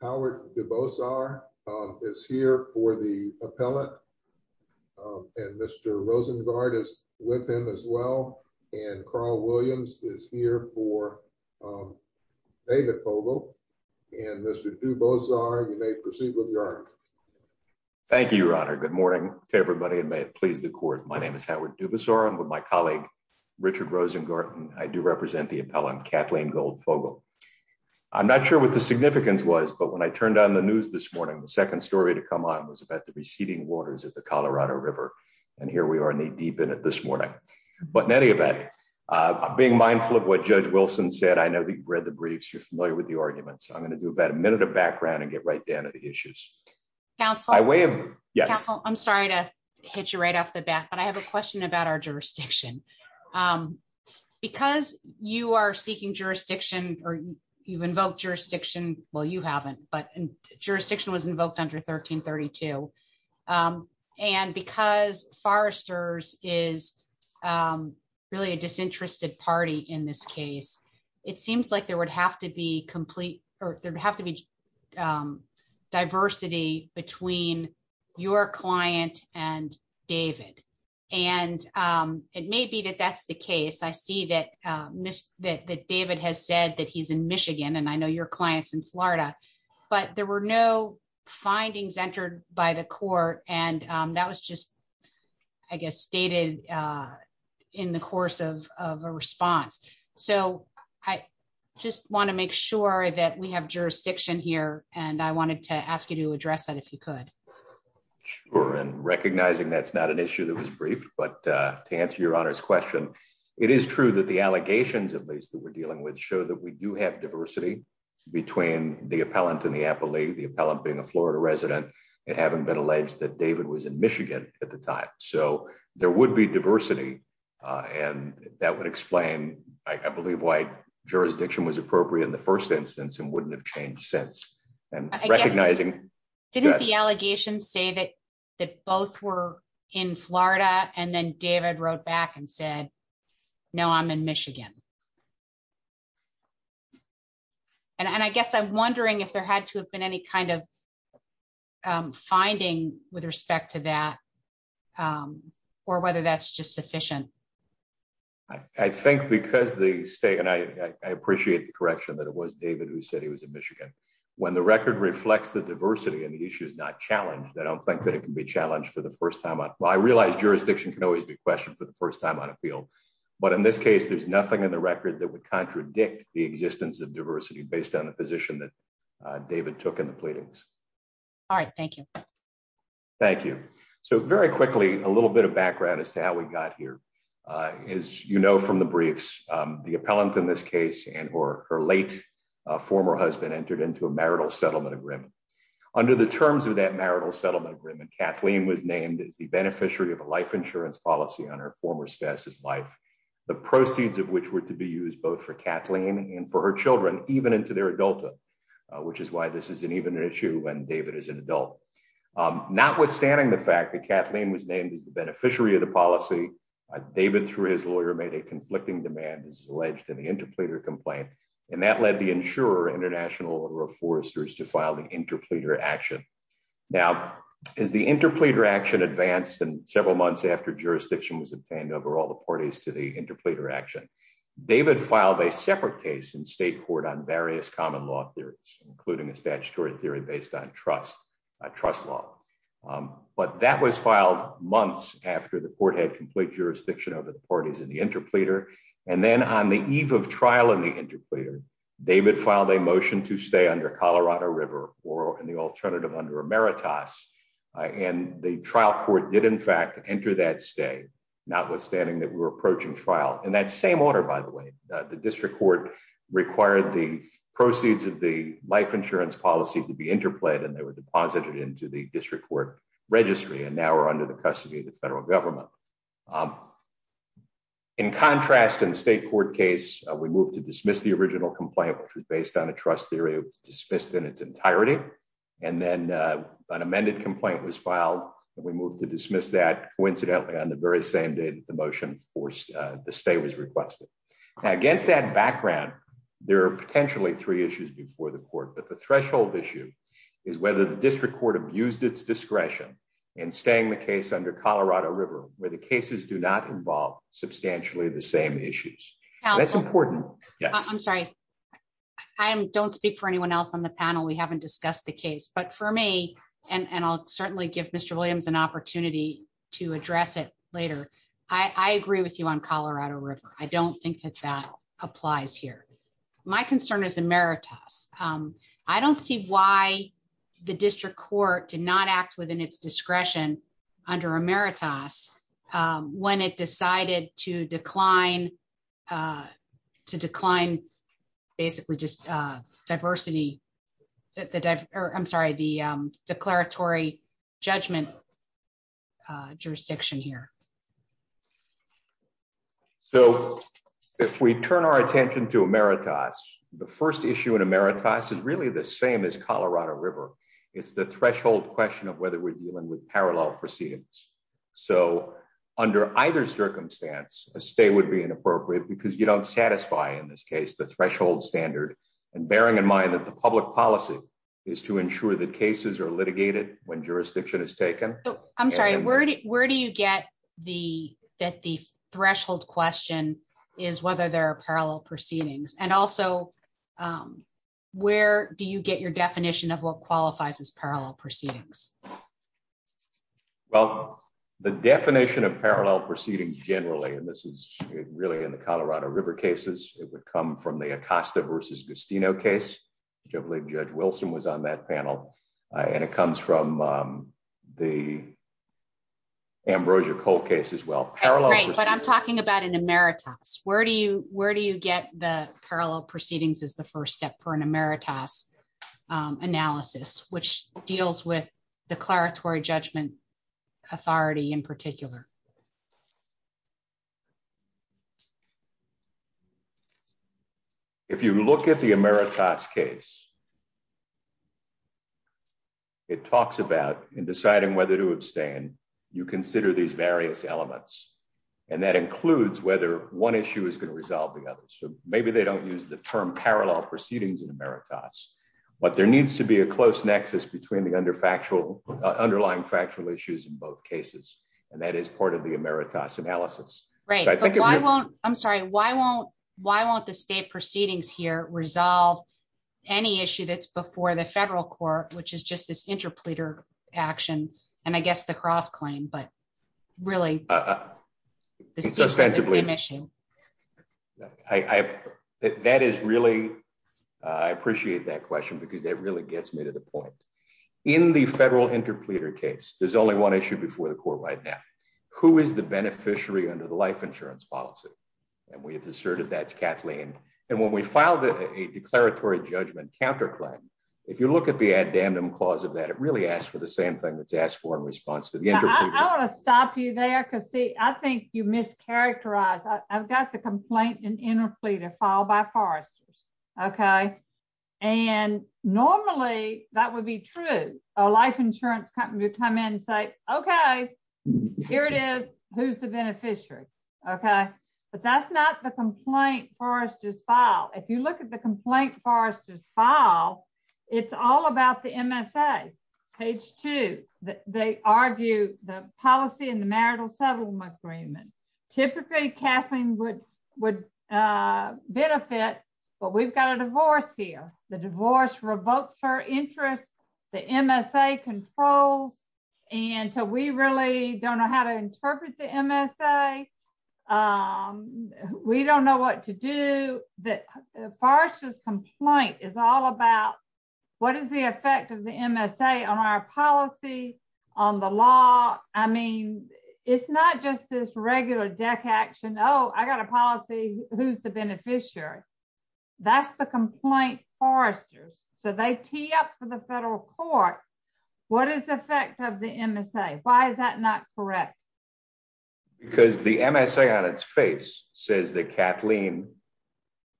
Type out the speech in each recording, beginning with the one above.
Howard DuBosar is here for the appellate and Mr. Rosengard is with him as well and Carl Williams is here for David Fogel and Mr. DuBosar you may proceed with your argument. Thank you, your honor. Good morning to everybody and may it please the court. My name is Howard DuBosar. I'm with my colleague, Richard Rosengarten. I do represent the appellant, Cathleen Gold-Fogel. I'm not sure what the significance was, but when I turned on the news this morning, the second story to come on was about the receding waters of the Colorado River, and here we are knee deep in it this morning. But in any event, being mindful of what Judge Wilson said, I know that you've read the briefs, you're familiar with the arguments. I'm going to do about a minute of background and get right down to the issues. Counsel, I'm sorry to hit you right off the bat, but I have a question about our jurisdiction. Because you are seeking jurisdiction, or you've invoked jurisdiction, well you haven't, but jurisdiction was invoked under 1332, and because Forrester's is really a disinterested party in this case, it seems like there would have to be complete, or there'd have to be diversity between your client and David, and it may be that that's the case. I see that David has said that he's in Michigan, and I know your client's in Florida, but there were no findings entered by the court, and that was just, I guess, stated in the course of a response. So I just want to make sure that we have jurisdiction here, and I wanted to ask you to address that if you could. Sure, and recognizing that's not an issue that was briefed, but to answer your Honor's question, it is true that the allegations of these that we're dealing with show that we do have diversity between the appellant and the appellee, the appellant being a Florida resident, and having been alleged that David was in Michigan at the time. So there would be diversity, and that would explain, I believe, why jurisdiction was appropriate in the first instance, and wouldn't have changed since. Didn't the allegations say that both were in Florida, and then David wrote back and said, no, I'm in Michigan? And I guess I'm wondering if there had to have been any kind of finding with respect to that, or whether that's just sufficient. I think because the state, and I appreciate the correction that it was David who said he was in Michigan. When the record reflects the diversity and the issue is not challenged, I don't think that it can be challenged for the first time. Well, I realize jurisdiction can always be questioned for the first time on a field, but in this case, there's nothing in the record that would contradict the existence of diversity based on the position that David took in the pleadings. All right, thank you. Thank you. So very quickly, a little bit of background as to how we got here. As you know from the briefs, the appellant in this case, and her late former husband entered into a marital settlement agreement. Under the terms of that marital settlement agreement, Kathleen was named as the beneficiary of a life insurance policy on her former spouse's life. The proceeds of which were to be used both for Kathleen and for her children, even into their adulthood, which is why this isn't even an issue when David is an adult. Notwithstanding the fact that Kathleen was named as the beneficiary of the policy, David, through his lawyer, made a conflicting demand, as alleged in the interpleader complaint, and that led the insurer, International Order of Foresters, to file the interpleader action. Now, as the interpleader action advanced and several months after jurisdiction was obtained over all the parties to the interpleader action, David filed a separate case in state court on various common law theories, including a statutory theory based on trust. But that was filed months after the court had complete jurisdiction over the parties in the interpleader. And then on the eve of trial in the interpleader, David filed a motion to stay under Colorado River or, in the alternative, under Emeritus. And the trial court did in fact enter that stay, notwithstanding that we were approaching trial. In that same order, by the way, the district court required the proceeds of the life insurance policy to be interplayed, and they were deposited into the district court registry. And now we're under the custody of the federal government. In contrast, in the state court case, we moved to dismiss the original complaint, which was based on a trust theory that was dismissed in its entirety. And then an amended complaint was filed, and we moved to dismiss that coincidentally on the very same day that the motion forced the stay was requested. Now, against that background, there are potentially three issues before the court. But the threshold issue is whether the district court abused its discretion in staying the case under Colorado River, where the cases do not involve substantially the same issues. That's important. I'm sorry. I don't speak for anyone else on the panel. We haven't discussed the case. But for me, and I'll certainly give Mr. Williams an opportunity to address it later, I agree with you on Colorado River. I don't think that that applies here. My concern is Emeritus. I don't see why the district court did not act within its discretion under Emeritus when it decided to decline basically just diversity. I'm sorry, the declaratory judgment jurisdiction here. So if we turn our attention to Emeritus, the first issue in Emeritus is really the same as Colorado River. It's the threshold question of whether we're dealing with parallel proceedings. So under either circumstance, a stay would be inappropriate because you don't satisfy, in this case, the threshold standard. And bearing in mind that the public policy is to ensure that cases are litigated when jurisdiction is taken. I'm sorry, where do you get that the threshold question is whether there are parallel proceedings? And also, where do you get your definition of what qualifies as parallel proceedings? Well, the definition of parallel proceedings generally, and this is really in the Colorado River cases. It would come from the Acosta versus Gustino case, which I believe Judge Wilson was on that panel. And it comes from the Ambrosia Cole case as well. But I'm talking about an Emeritus. Where do you get the parallel proceedings as the first step for an Emeritus analysis, which deals with declaratory judgment authority in particular? If you look at the Emeritus case. It talks about in deciding whether to abstain, you consider these various elements. And that includes whether one issue is going to resolve the other. So maybe they don't use the term parallel proceedings in Emeritus. But there needs to be a close nexus between the under factual underlying factual issues in both cases. And that is part of the Emeritus analysis. Right. I'm sorry. Why won't why won't the state proceedings here resolve any issue that's before the federal court, which is just this interpleader action? And I guess the cross claim, but really. Substantively. That is really. I appreciate that question because that really gets me to the point. In the federal interpleader case, there's only one issue before the court right now. Who is the beneficiary under the life insurance policy? And we have asserted that's Kathleen. And when we filed a declaratory judgment counterclaim, if you look at the addendum clause of that, it really asks for the same thing that's asked for in response to the interpleader. I want to stop you there because, see, I think you mischaracterize. I've got the complaint in interpleader filed by Forrester's. OK, and normally that would be true. A life insurance company would come in and say, OK, here it is. Who's the beneficiary? OK, but that's not the complaint Forrester's file. If you look at the complaint Forrester's file, it's all about the MSA. Page two, they argue the policy and the marital settlement agreement. Typically, Kathleen would benefit, but we've got a divorce here. The divorce revokes her interest. The MSA controls. And so we really don't know how to interpret the MSA. We don't know what to do. Forrester's complaint is all about what is the effect of the MSA on our policy, on the law? It's not just this regular deck action. Oh, I got a policy. Who's the beneficiary? That's the complaint Forrester's. So they tee up for the federal court. What is the effect of the MSA? Why is that not correct? Because the MSA on its face says that Kathleen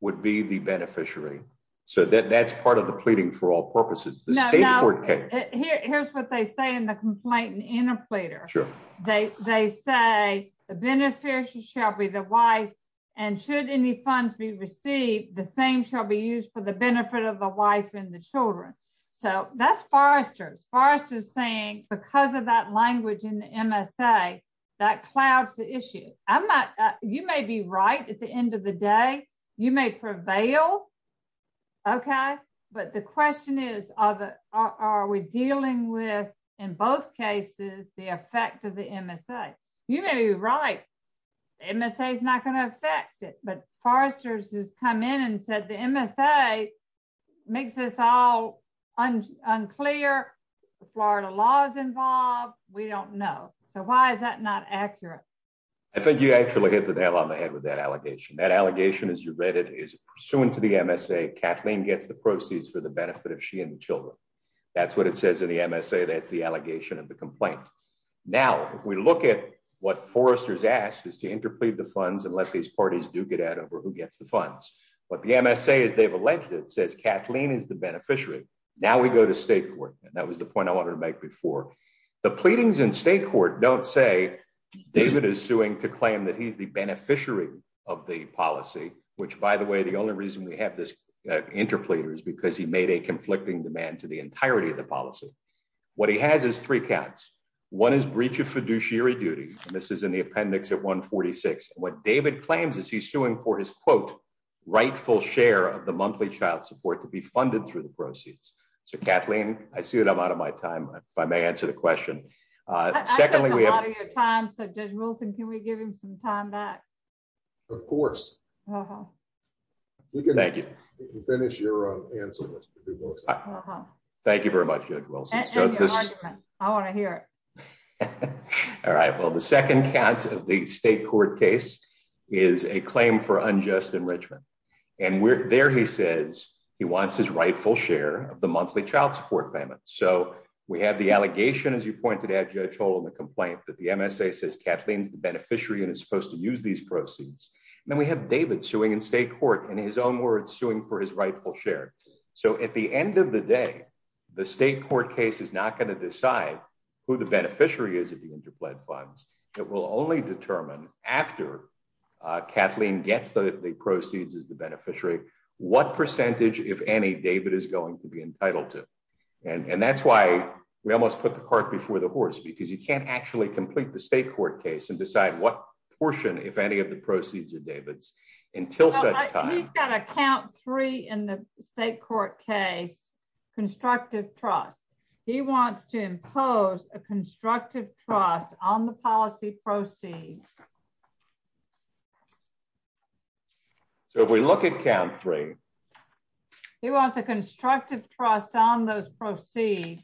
would be the beneficiary. So that's part of the pleading for all purposes. Here's what they say in the complaint and interpreter. They say the beneficiary shall be the wife. And should any funds be received, the same shall be used for the benefit of the wife and the children. So that's Forrester's. Forrester's saying because of that language in the MSA, that clouds the issue. You may be right at the end of the day. You may prevail. OK. But the question is, are we dealing with, in both cases, the effect of the MSA? You may be right. MSA is not going to affect it. But Forrester's has come in and said the MSA makes this all unclear. Florida law is involved. We don't know. So why is that not accurate? I think you actually hit the nail on the head with that allegation. That allegation, as you read it, is pursuant to the MSA. Kathleen gets the proceeds for the benefit of she and the children. That's what it says in the MSA. That's the allegation of the complaint. Now, if we look at what Forrester's asked is to interplead the funds and let these parties duke it out over who gets the funds. But the MSA, as they've alleged it, says Kathleen is the beneficiary. Now we go to state court. And that was the point I wanted to make before. The pleadings in state court don't say David is suing to claim that he's the beneficiary of the policy, which, by the way, the only reason we have this interpleader is because he made a conflicting demand to the entirety of the policy. What he has is three counts. One is breach of fiduciary duty. And this is in the appendix at 146. What David claims is he's suing for his, quote, rightful share of the monthly child support to be funded through the proceeds. So, Kathleen, I see that I'm out of my time. If I may answer the question. I took a lot of your time. So, Judge Wilson, can we give him some time back? Of course. Thank you. You can finish your answer, Judge Wilson. Thank you very much, Judge Wilson. And your argument. I want to hear it. All right. Well, the second count of the state court case is a claim for unjust enrichment. And there he says he wants his rightful share of the monthly child support payment. So, we have the allegation, as you pointed out, Judge Holden, the complaint that the MSA says Kathleen's the beneficiary and is supposed to use these proceeds. And then we have David suing in state court, in his own words, suing for his rightful share. So, at the end of the day, the state court case is not going to decide who the beneficiary is of the interplaid funds. It will only determine, after Kathleen gets the proceeds as the beneficiary, what percentage, if any, David is going to be entitled to. And that's why we almost put the cart before the horse. Because he can't actually complete the state court case and decide what portion, if any, of the proceeds are David's. Until such time. He's got a count three in the state court case. Constructive trust. He wants to impose a constructive trust on the policy proceeds. So, if we look at count three. He wants a constructive trust on those proceeds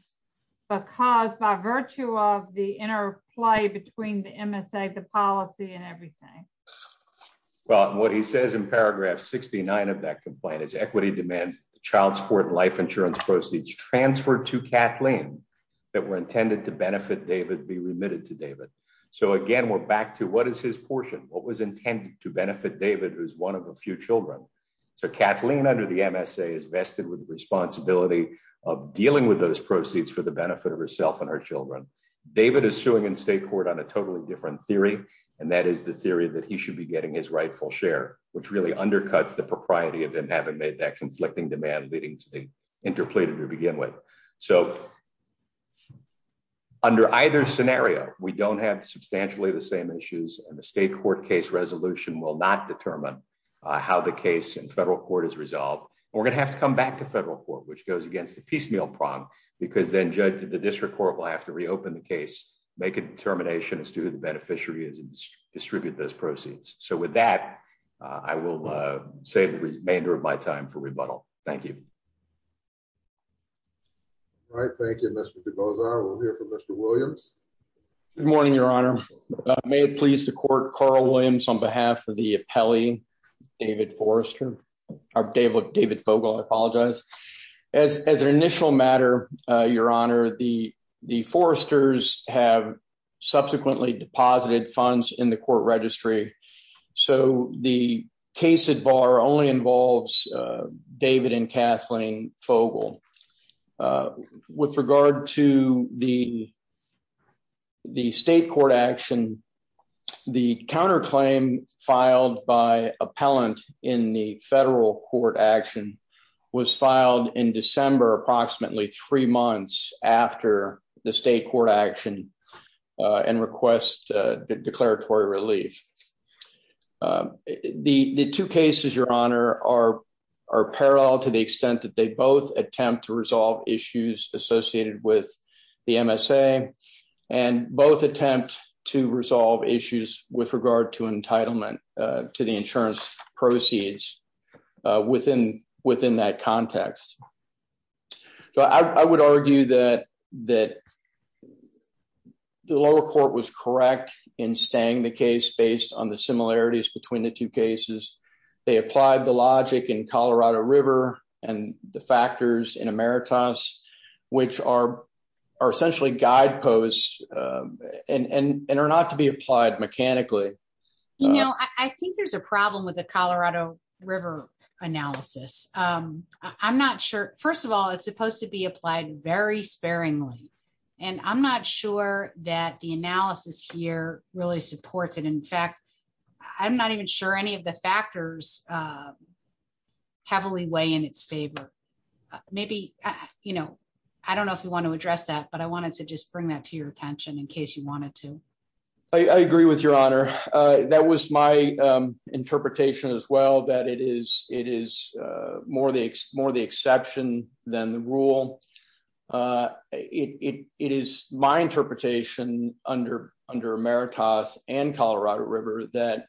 because, by virtue of the interplay between the MSA, the policy, and everything. Well, what he says in paragraph 69 of that complaint is equity demands that the child support and life insurance proceeds transferred to Kathleen. That were intended to benefit David be remitted to David. So, again, we're back to what is his portion? What was intended to benefit David, who is one of a few children? So, Kathleen, under the MSA, is vested with the responsibility of dealing with those proceeds for the benefit of herself and her children. David is suing in state court on a totally different theory. And that is the theory that he should be getting his rightful share. Which really undercuts the propriety of him having made that conflicting demand leading to the interplay to begin with. So, under either scenario, we don't have substantially the same issues. And the state court case resolution will not determine how the case in federal court is resolved. And we're going to have to come back to federal court, which goes against the piecemeal prong. Because then the district court will have to reopen the case. Make a determination as to who the beneficiary is and distribute those proceeds. So, with that, I will save the remainder of my time for rebuttal. Thank you. All right. Thank you, Mr. Begoza. We'll hear from Mr. Williams. Good morning, Your Honor. May it please the court, Carl Williams on behalf of the appellee, David Fogel. I apologize. As an initial matter, Your Honor, the foresters have subsequently deposited funds in the court registry. So, the case at bar only involves David and Kathleen Fogel. With regard to the state court action, the counterclaim filed by appellant in the federal court action was filed in December, approximately three months after the state court action and request declaratory relief. The two cases, Your Honor, are parallel to the extent that they both attempt to resolve issues associated with the MSA. And both attempt to resolve issues with regard to entitlement to the insurance proceeds within that context. I would argue that the lower court was correct in staying the case based on the similarities between the two cases. They applied the logic in Colorado River and the factors in Emeritus, which are essentially guideposts and are not to be applied mechanically. You know, I think there's a problem with the Colorado River analysis. I'm not sure. First of all, it's supposed to be applied very sparingly. And I'm not sure that the analysis here really supports it. In fact, I'm not even sure any of the factors heavily weigh in its favor. Maybe, you know, I don't know if you want to address that, but I wanted to just bring that to your attention in case you wanted to. I agree with Your Honor. That was my interpretation as well, that it is more the exception than the rule. It is my interpretation under Emeritus and Colorado River that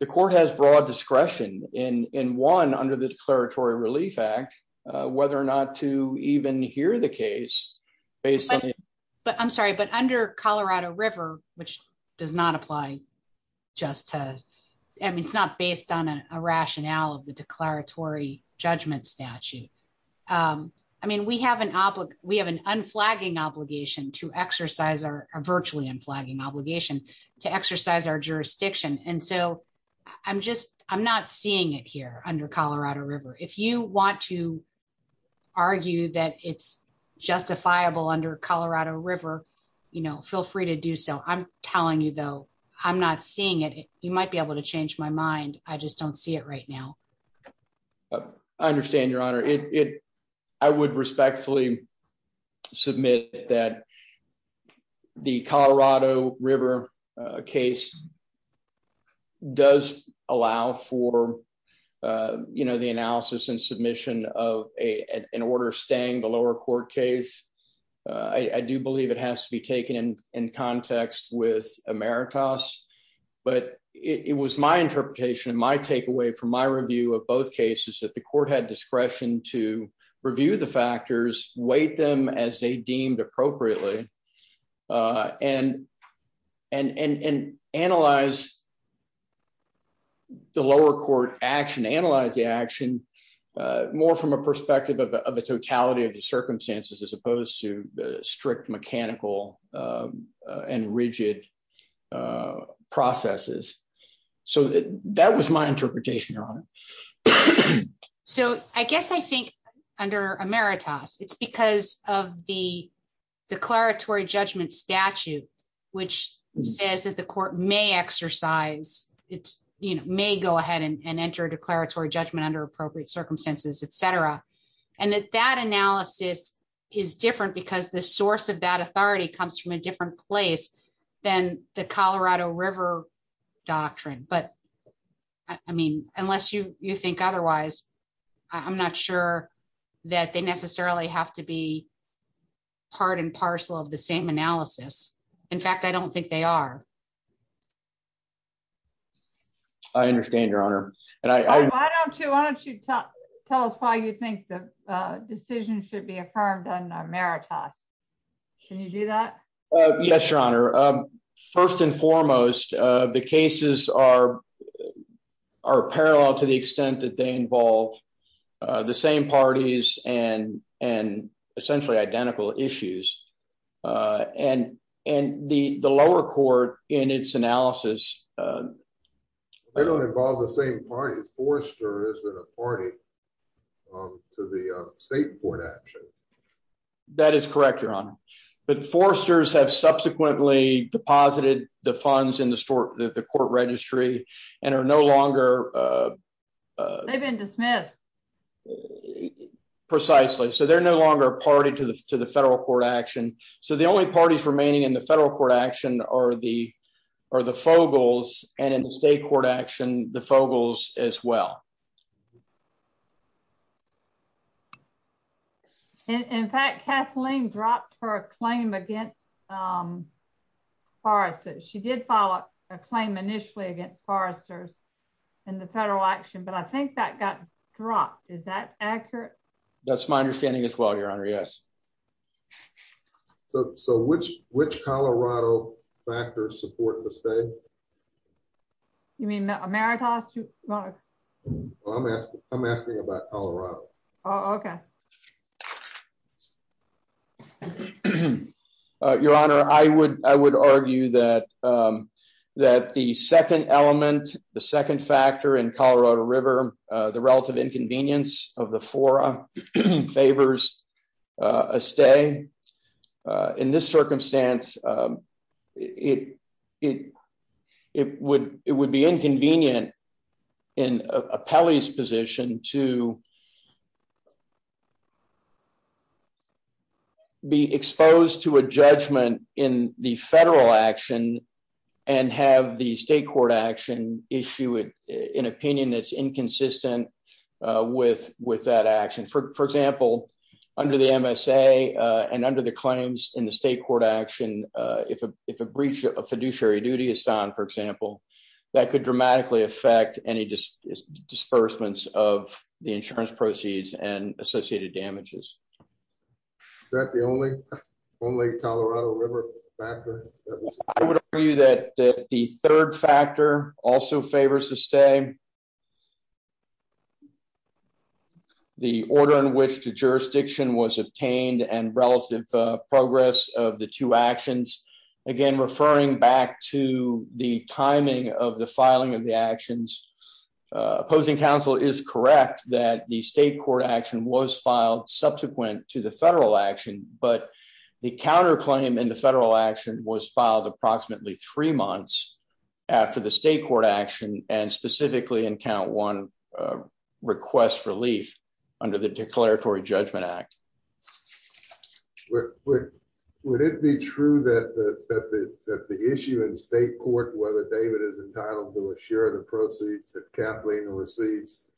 the court has broad discretion in one, under the Declaratory Relief Act, whether or not to even hear the case. But I'm sorry, but under Colorado River, which does not apply just to, I mean, it's not based on a rationale of the declaratory judgment statute. I mean, we have an unflagging obligation to exercise our, a virtually unflagging obligation to exercise our jurisdiction. And so I'm just, I'm not seeing it here under Colorado River. If you want to argue that it's justifiable under Colorado River, you know, feel free to do so. I'm telling you, though, I'm not seeing it. You might be able to change my mind. I just don't see it right now. I understand, Your Honor. I would respectfully submit that the Colorado River case does allow for, you know, the analysis and submission of an order staying the lower court case. I do believe it has to be taken in context with Emeritus. But it was my interpretation, my takeaway from my review of both cases, that the court had discretion to review the factors, weight them as they deemed appropriately, and analyze the lower court action, analyze the action more from a perspective of the totality of the circumstances as opposed to strict mechanical and rigid processes. So that was my interpretation, Your Honor. So I guess I think under Emeritus, it's because of the declaratory judgment statute, which says that the court may exercise, it may go ahead and enter a declaratory judgment under appropriate circumstances, etc. And that that analysis is different because the source of that authority comes from a different place than the Colorado River doctrine. But, I mean, unless you think otherwise, I'm not sure that they necessarily have to be part and parcel of the same analysis. In fact, I don't think they are. I understand, Your Honor. Why don't you tell us why you think the decision should be affirmed under Emeritus? Can you do that? Yes, Your Honor. First and foremost, the cases are parallel to the extent that they involve the same parties and essentially identical issues. And the lower court, in its analysis... They don't involve the same parties. Forrester isn't a party to the state court action. That is correct, Your Honor. But Forrester's have subsequently deposited the funds in the court registry and are no longer... They've been dismissed. Precisely. So they're no longer a party to the federal court action. So the only parties remaining in the federal court action are the Fogles and in the state court action, the Fogles as well. In fact, Kathleen dropped her claim against Forrester's. She did file a claim initially against Forrester's in the federal action, but I think that got dropped. Is that accurate? That's my understanding as well, Your Honor. Yes. So which Colorado factors support the state? You mean Emeritus? I'm asking about Colorado. Your Honor, I would argue that the second element, the second factor in Colorado River, the relative inconvenience of the fora favors a stay. In this circumstance, it would be inconvenient in a Pele's position to be exposed to a judgment in the federal action and have the state court action issue an opinion that's inconsistent with that action. For example, under the MSA and under the claims in the state court action, if a breach of fiduciary duty is done, for example, that could dramatically affect any disbursements of the insurance proceeds and associated damages. Is that the only Colorado River factor? I would argue that the third factor also favors a stay. The order in which the jurisdiction was obtained and relative progress of the two actions, again, referring back to the timing of the filing of the actions. Opposing counsel is correct that the state court action was filed subsequent to the federal action, but the counterclaim in the federal action was filed approximately three months after the state court action and specifically in count one request relief under the Declaratory Judgment Act. Would it be true that the issue in state court whether David is entitled to share the proceeds that Kathleen receives,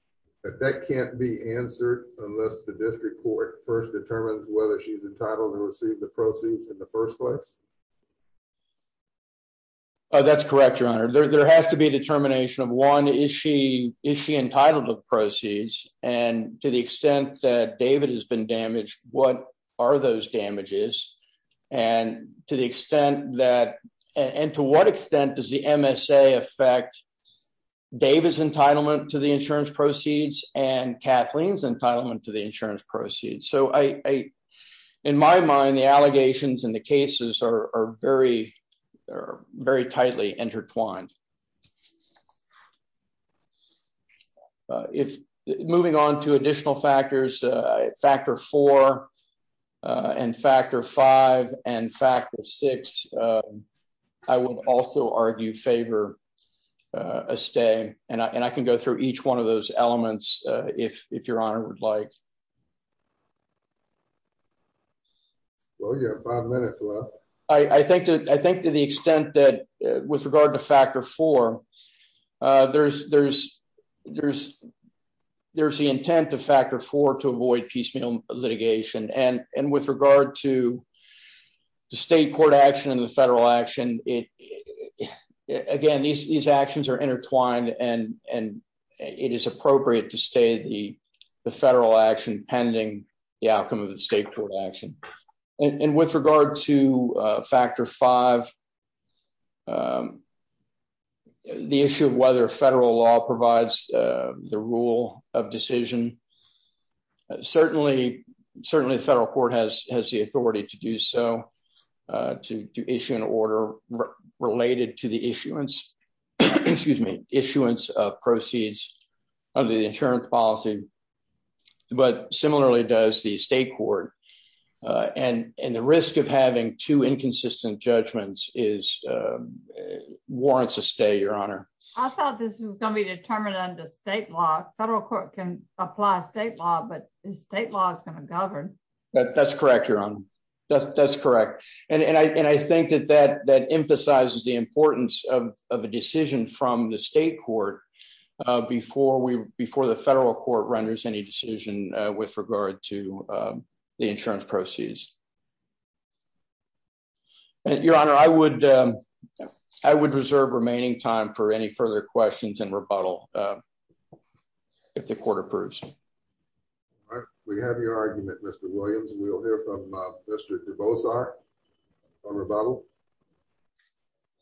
that that can't be answered unless the district court first determines whether she's entitled to receive the proceeds in the first place? That's correct, Your Honor. There has to be a determination of one issue. Is she entitled to proceeds? And to the extent that David has been damaged, what are those damages? And to the extent that and to what extent does the MSA affect David's entitlement to the insurance proceeds and Kathleen's entitlement to the insurance proceeds? In my mind, the allegations and the cases are very, very tightly intertwined. Moving on to additional factors, factor four and factor five and factor six, I would also argue favor a stay. And I can go through each one of those elements if Your Honor would like. Well, you have five minutes left. I think to the extent that with regard to factor four, there's the intent of factor four to avoid piecemeal litigation. And with regard to the state court action and the federal action, again, these actions are intertwined and it is appropriate to stay the federal action pending the outcome of the state court action. And with regard to factor five, the issue of whether federal law provides the rule of decision. Certainly, the federal court has the authority to do so, to issue an order related to the issuance of proceeds of the insurance policy. But similarly does the state court. And the risk of having two inconsistent judgments warrants a stay, Your Honor. I thought this was going to be determined under state law. Federal court can apply state law, but state law is going to govern. That's correct, Your Honor. That's correct. And I think that emphasizes the importance of a decision from the state court before the federal court renders any decision with regard to the insurance proceeds. Your Honor, I would reserve remaining time for any further questions and rebuttal if the court approves. All right, we have your argument, Mr. Williams, and we'll hear from Mr. Kribosar for rebuttal.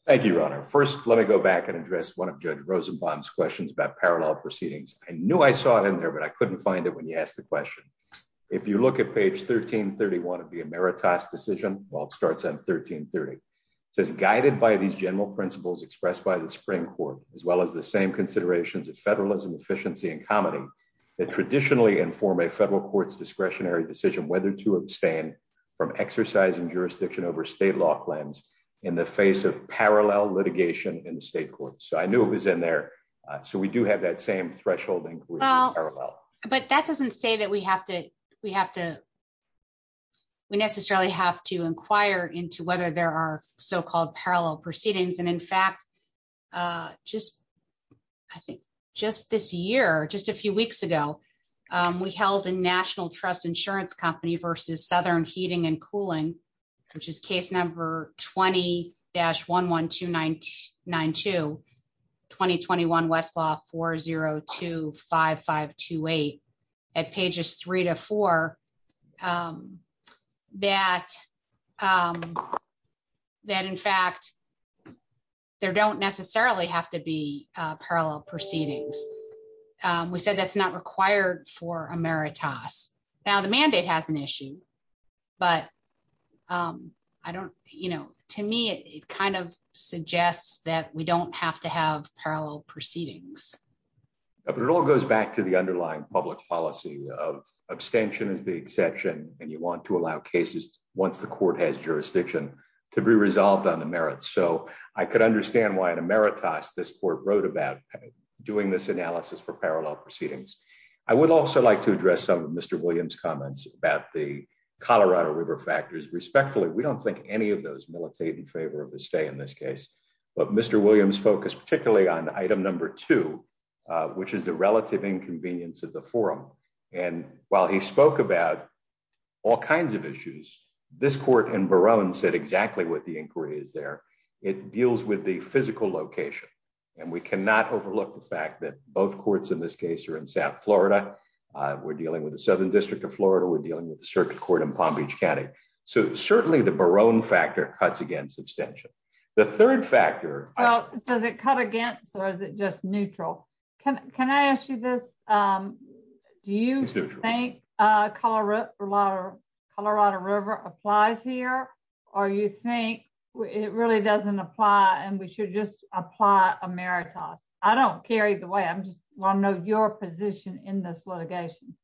Thank you, Your Honor. First, let me go back and address one of Judge Rosenbaum's questions about parallel proceedings. I knew I saw it in there, but I couldn't find it when you asked the question. If you look at page 1331 of the emeritus decision, well, it starts on 1330. It says, guided by these general principles expressed by the Supreme Court, as well as the same considerations of federalism, efficiency, and comity that traditionally inform a federal court's discretionary decision whether to abstain from exercising jurisdiction over state law claims in the face of parallel litigation in the state court. So I knew it was in there. So we do have that same threshold in parallel. But that doesn't say that we necessarily have to inquire into whether there are so-called parallel proceedings. And in fact, just this year, just a few weeks ago, we held a national trust insurance company versus Southern Heating and Cooling, which is case number 20-11292, 2021 Westlaw 4025528 at pages 3 to 4, that in fact, there don't necessarily have to be parallel proceedings. We said that's not required for emeritus. Now, the mandate has an issue, but I don't, you know, to me, it kind of suggests that we don't have to have parallel proceedings. But it all goes back to the underlying public policy of abstention is the exception, and you want to allow cases once the court has jurisdiction to be resolved on the merits. So I could understand why an emeritus this court wrote about doing this analysis for parallel proceedings. I would also like to address some of Mr. Williams' comments about the Colorado River factors. Respectfully, we don't think any of those militate in favor of the stay in this case. But Mr. Williams focused particularly on item number two, which is the relative inconvenience of the forum. And while he spoke about all kinds of issues, this court in Barone said exactly what the inquiry is there. It deals with the physical location. And we cannot overlook the fact that both courts in this case are in South Florida. We're dealing with the Southern District of Florida. We're dealing with the circuit court in Palm Beach County. So certainly the Barone factor cuts against abstention. The third factor. Well, does it cut against or is it just neutral? Can I ask you this? Do you think Colorado River applies here? Or you think it really doesn't apply and we should just apply emeritus? I don't care either way. I just want to know your position in this litigation.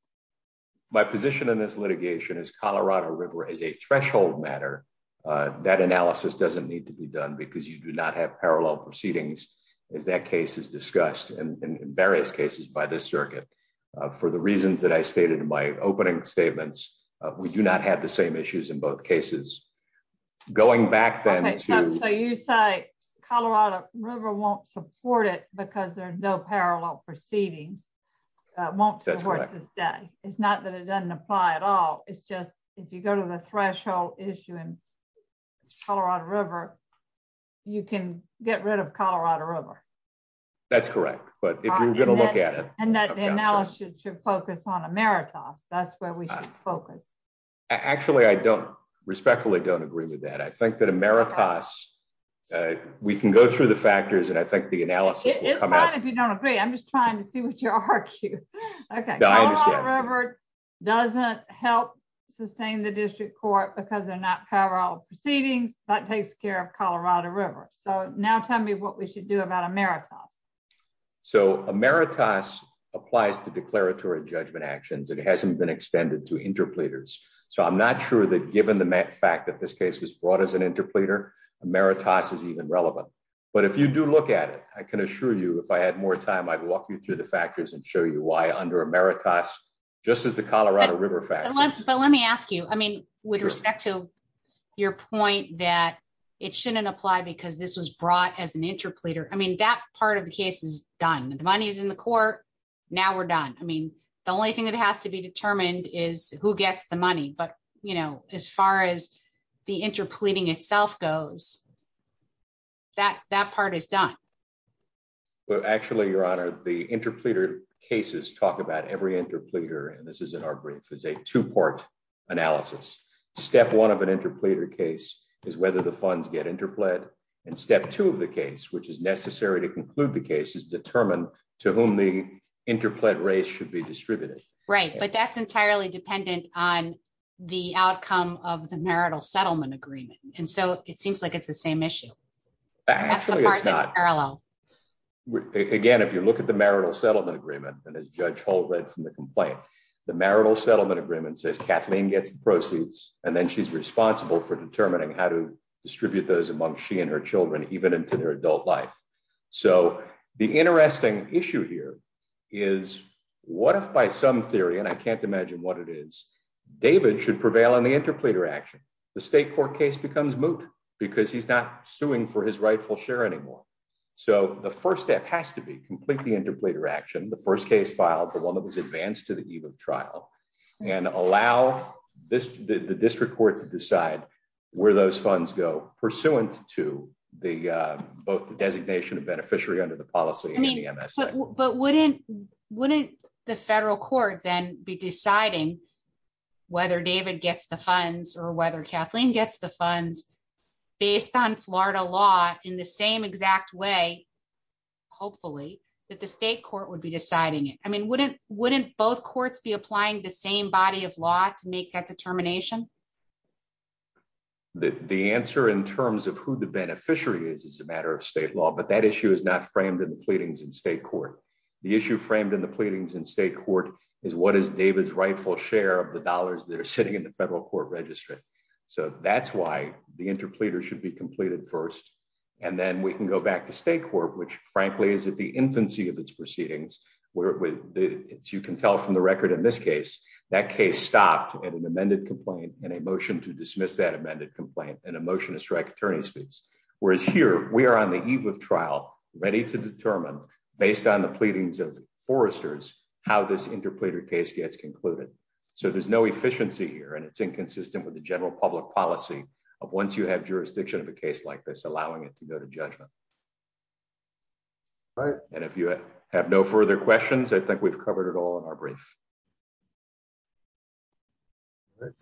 My position in this litigation is Colorado River is a threshold matter. That analysis doesn't need to be done because you do not have parallel proceedings as that case is discussed in various cases by this circuit. For the reasons that I stated in my opening statements, we do not have the same issues in both cases. Going back then. So you say Colorado River won't support it because there are no parallel proceedings. Won't support this day. It's not that it doesn't apply at all. It's just if you go to the threshold issue in Colorado River, you can get rid of Colorado River. That's correct. But if you're going to look at it. And that analysis should focus on emeritus. That's where we should focus. Actually, I don't. Respectfully don't agree with that. I think that emeritus. We can go through the factors and I think the analysis. It's fine if you don't agree. I'm just trying to see what you argue. OK. Colorado River doesn't help sustain the district court because they're not parallel proceedings. That takes care of Colorado River. So now tell me what we should do about emeritus. So emeritus applies to declaratory judgment actions. It hasn't been extended to interpleaders. So I'm not sure that given the fact that this case was brought as an interpleader. Emeritus is even relevant. But if you do look at it, I can assure you if I had more time, I'd walk you through the factors and show you why under emeritus. Just as the Colorado River fact. But let me ask you, I mean, with respect to your point that it shouldn't apply because this was brought as an interpleader. I mean, that part of the case is done. The money is in the court. Now we're done. I mean, the only thing that has to be determined is who gets the money. But, you know, as far as the interpleading itself goes. That that part is done. Well, actually, Your Honor, the interpleader cases talk about every interpleader. And this is in our brief is a two part analysis. Step one of an interpleader case is whether the funds get interplayed. And step two of the case, which is necessary to conclude the case, is determined to whom the interplayed race should be distributed. Right. But that's entirely dependent on the outcome of the marital settlement agreement. And so it seems like it's the same issue. Actually, it's not. Again, if you look at the marital settlement agreement and as Judge Hull read from the complaint, the marital settlement agreement says Kathleen gets the proceeds. And then she's responsible for determining how to distribute those among she and her children, even into their adult life. So the interesting issue here is what if by some theory, and I can't imagine what it is, David should prevail on the interpleader action. The state court case becomes moot because he's not suing for his rightful share anymore. So the first step has to be completely interpleader action. The first case filed, the one that was advanced to the eve of trial, and allow the district court to decide where those funds go pursuant to both the designation of beneficiary under the policy and the MSA. But wouldn't the federal court then be deciding whether David gets the funds or whether Kathleen gets the funds based on Florida law in the same exact way? Hopefully, that the state court would be deciding it. I mean, wouldn't both courts be applying the same body of law to make that determination? The answer in terms of who the beneficiary is, is a matter of state law, but that issue is not framed in the pleadings in state court. The issue framed in the pleadings in state court is what is David's rightful share of the dollars that are sitting in the federal court registry. So that's why the interpleader should be completed first. And then we can go back to state court, which, frankly, is at the infancy of its proceedings. You can tell from the record in this case, that case stopped at an amended complaint and a motion to dismiss that amended complaint and a motion to strike attorney's fees. Whereas here, we are on the eve of trial, ready to determine, based on the pleadings of foresters, how this interpleader case gets concluded. So there's no efficiency here, and it's inconsistent with the general public policy of once you have jurisdiction of a case like this, allowing it to go to judgment. And if you have no further questions, I think we've covered it all in our brief.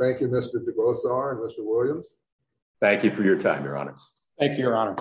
Thank you, Mr. DeGrossar and Mr. Williams. Thank you for your time, Your Honors. Thank you, Your Honor.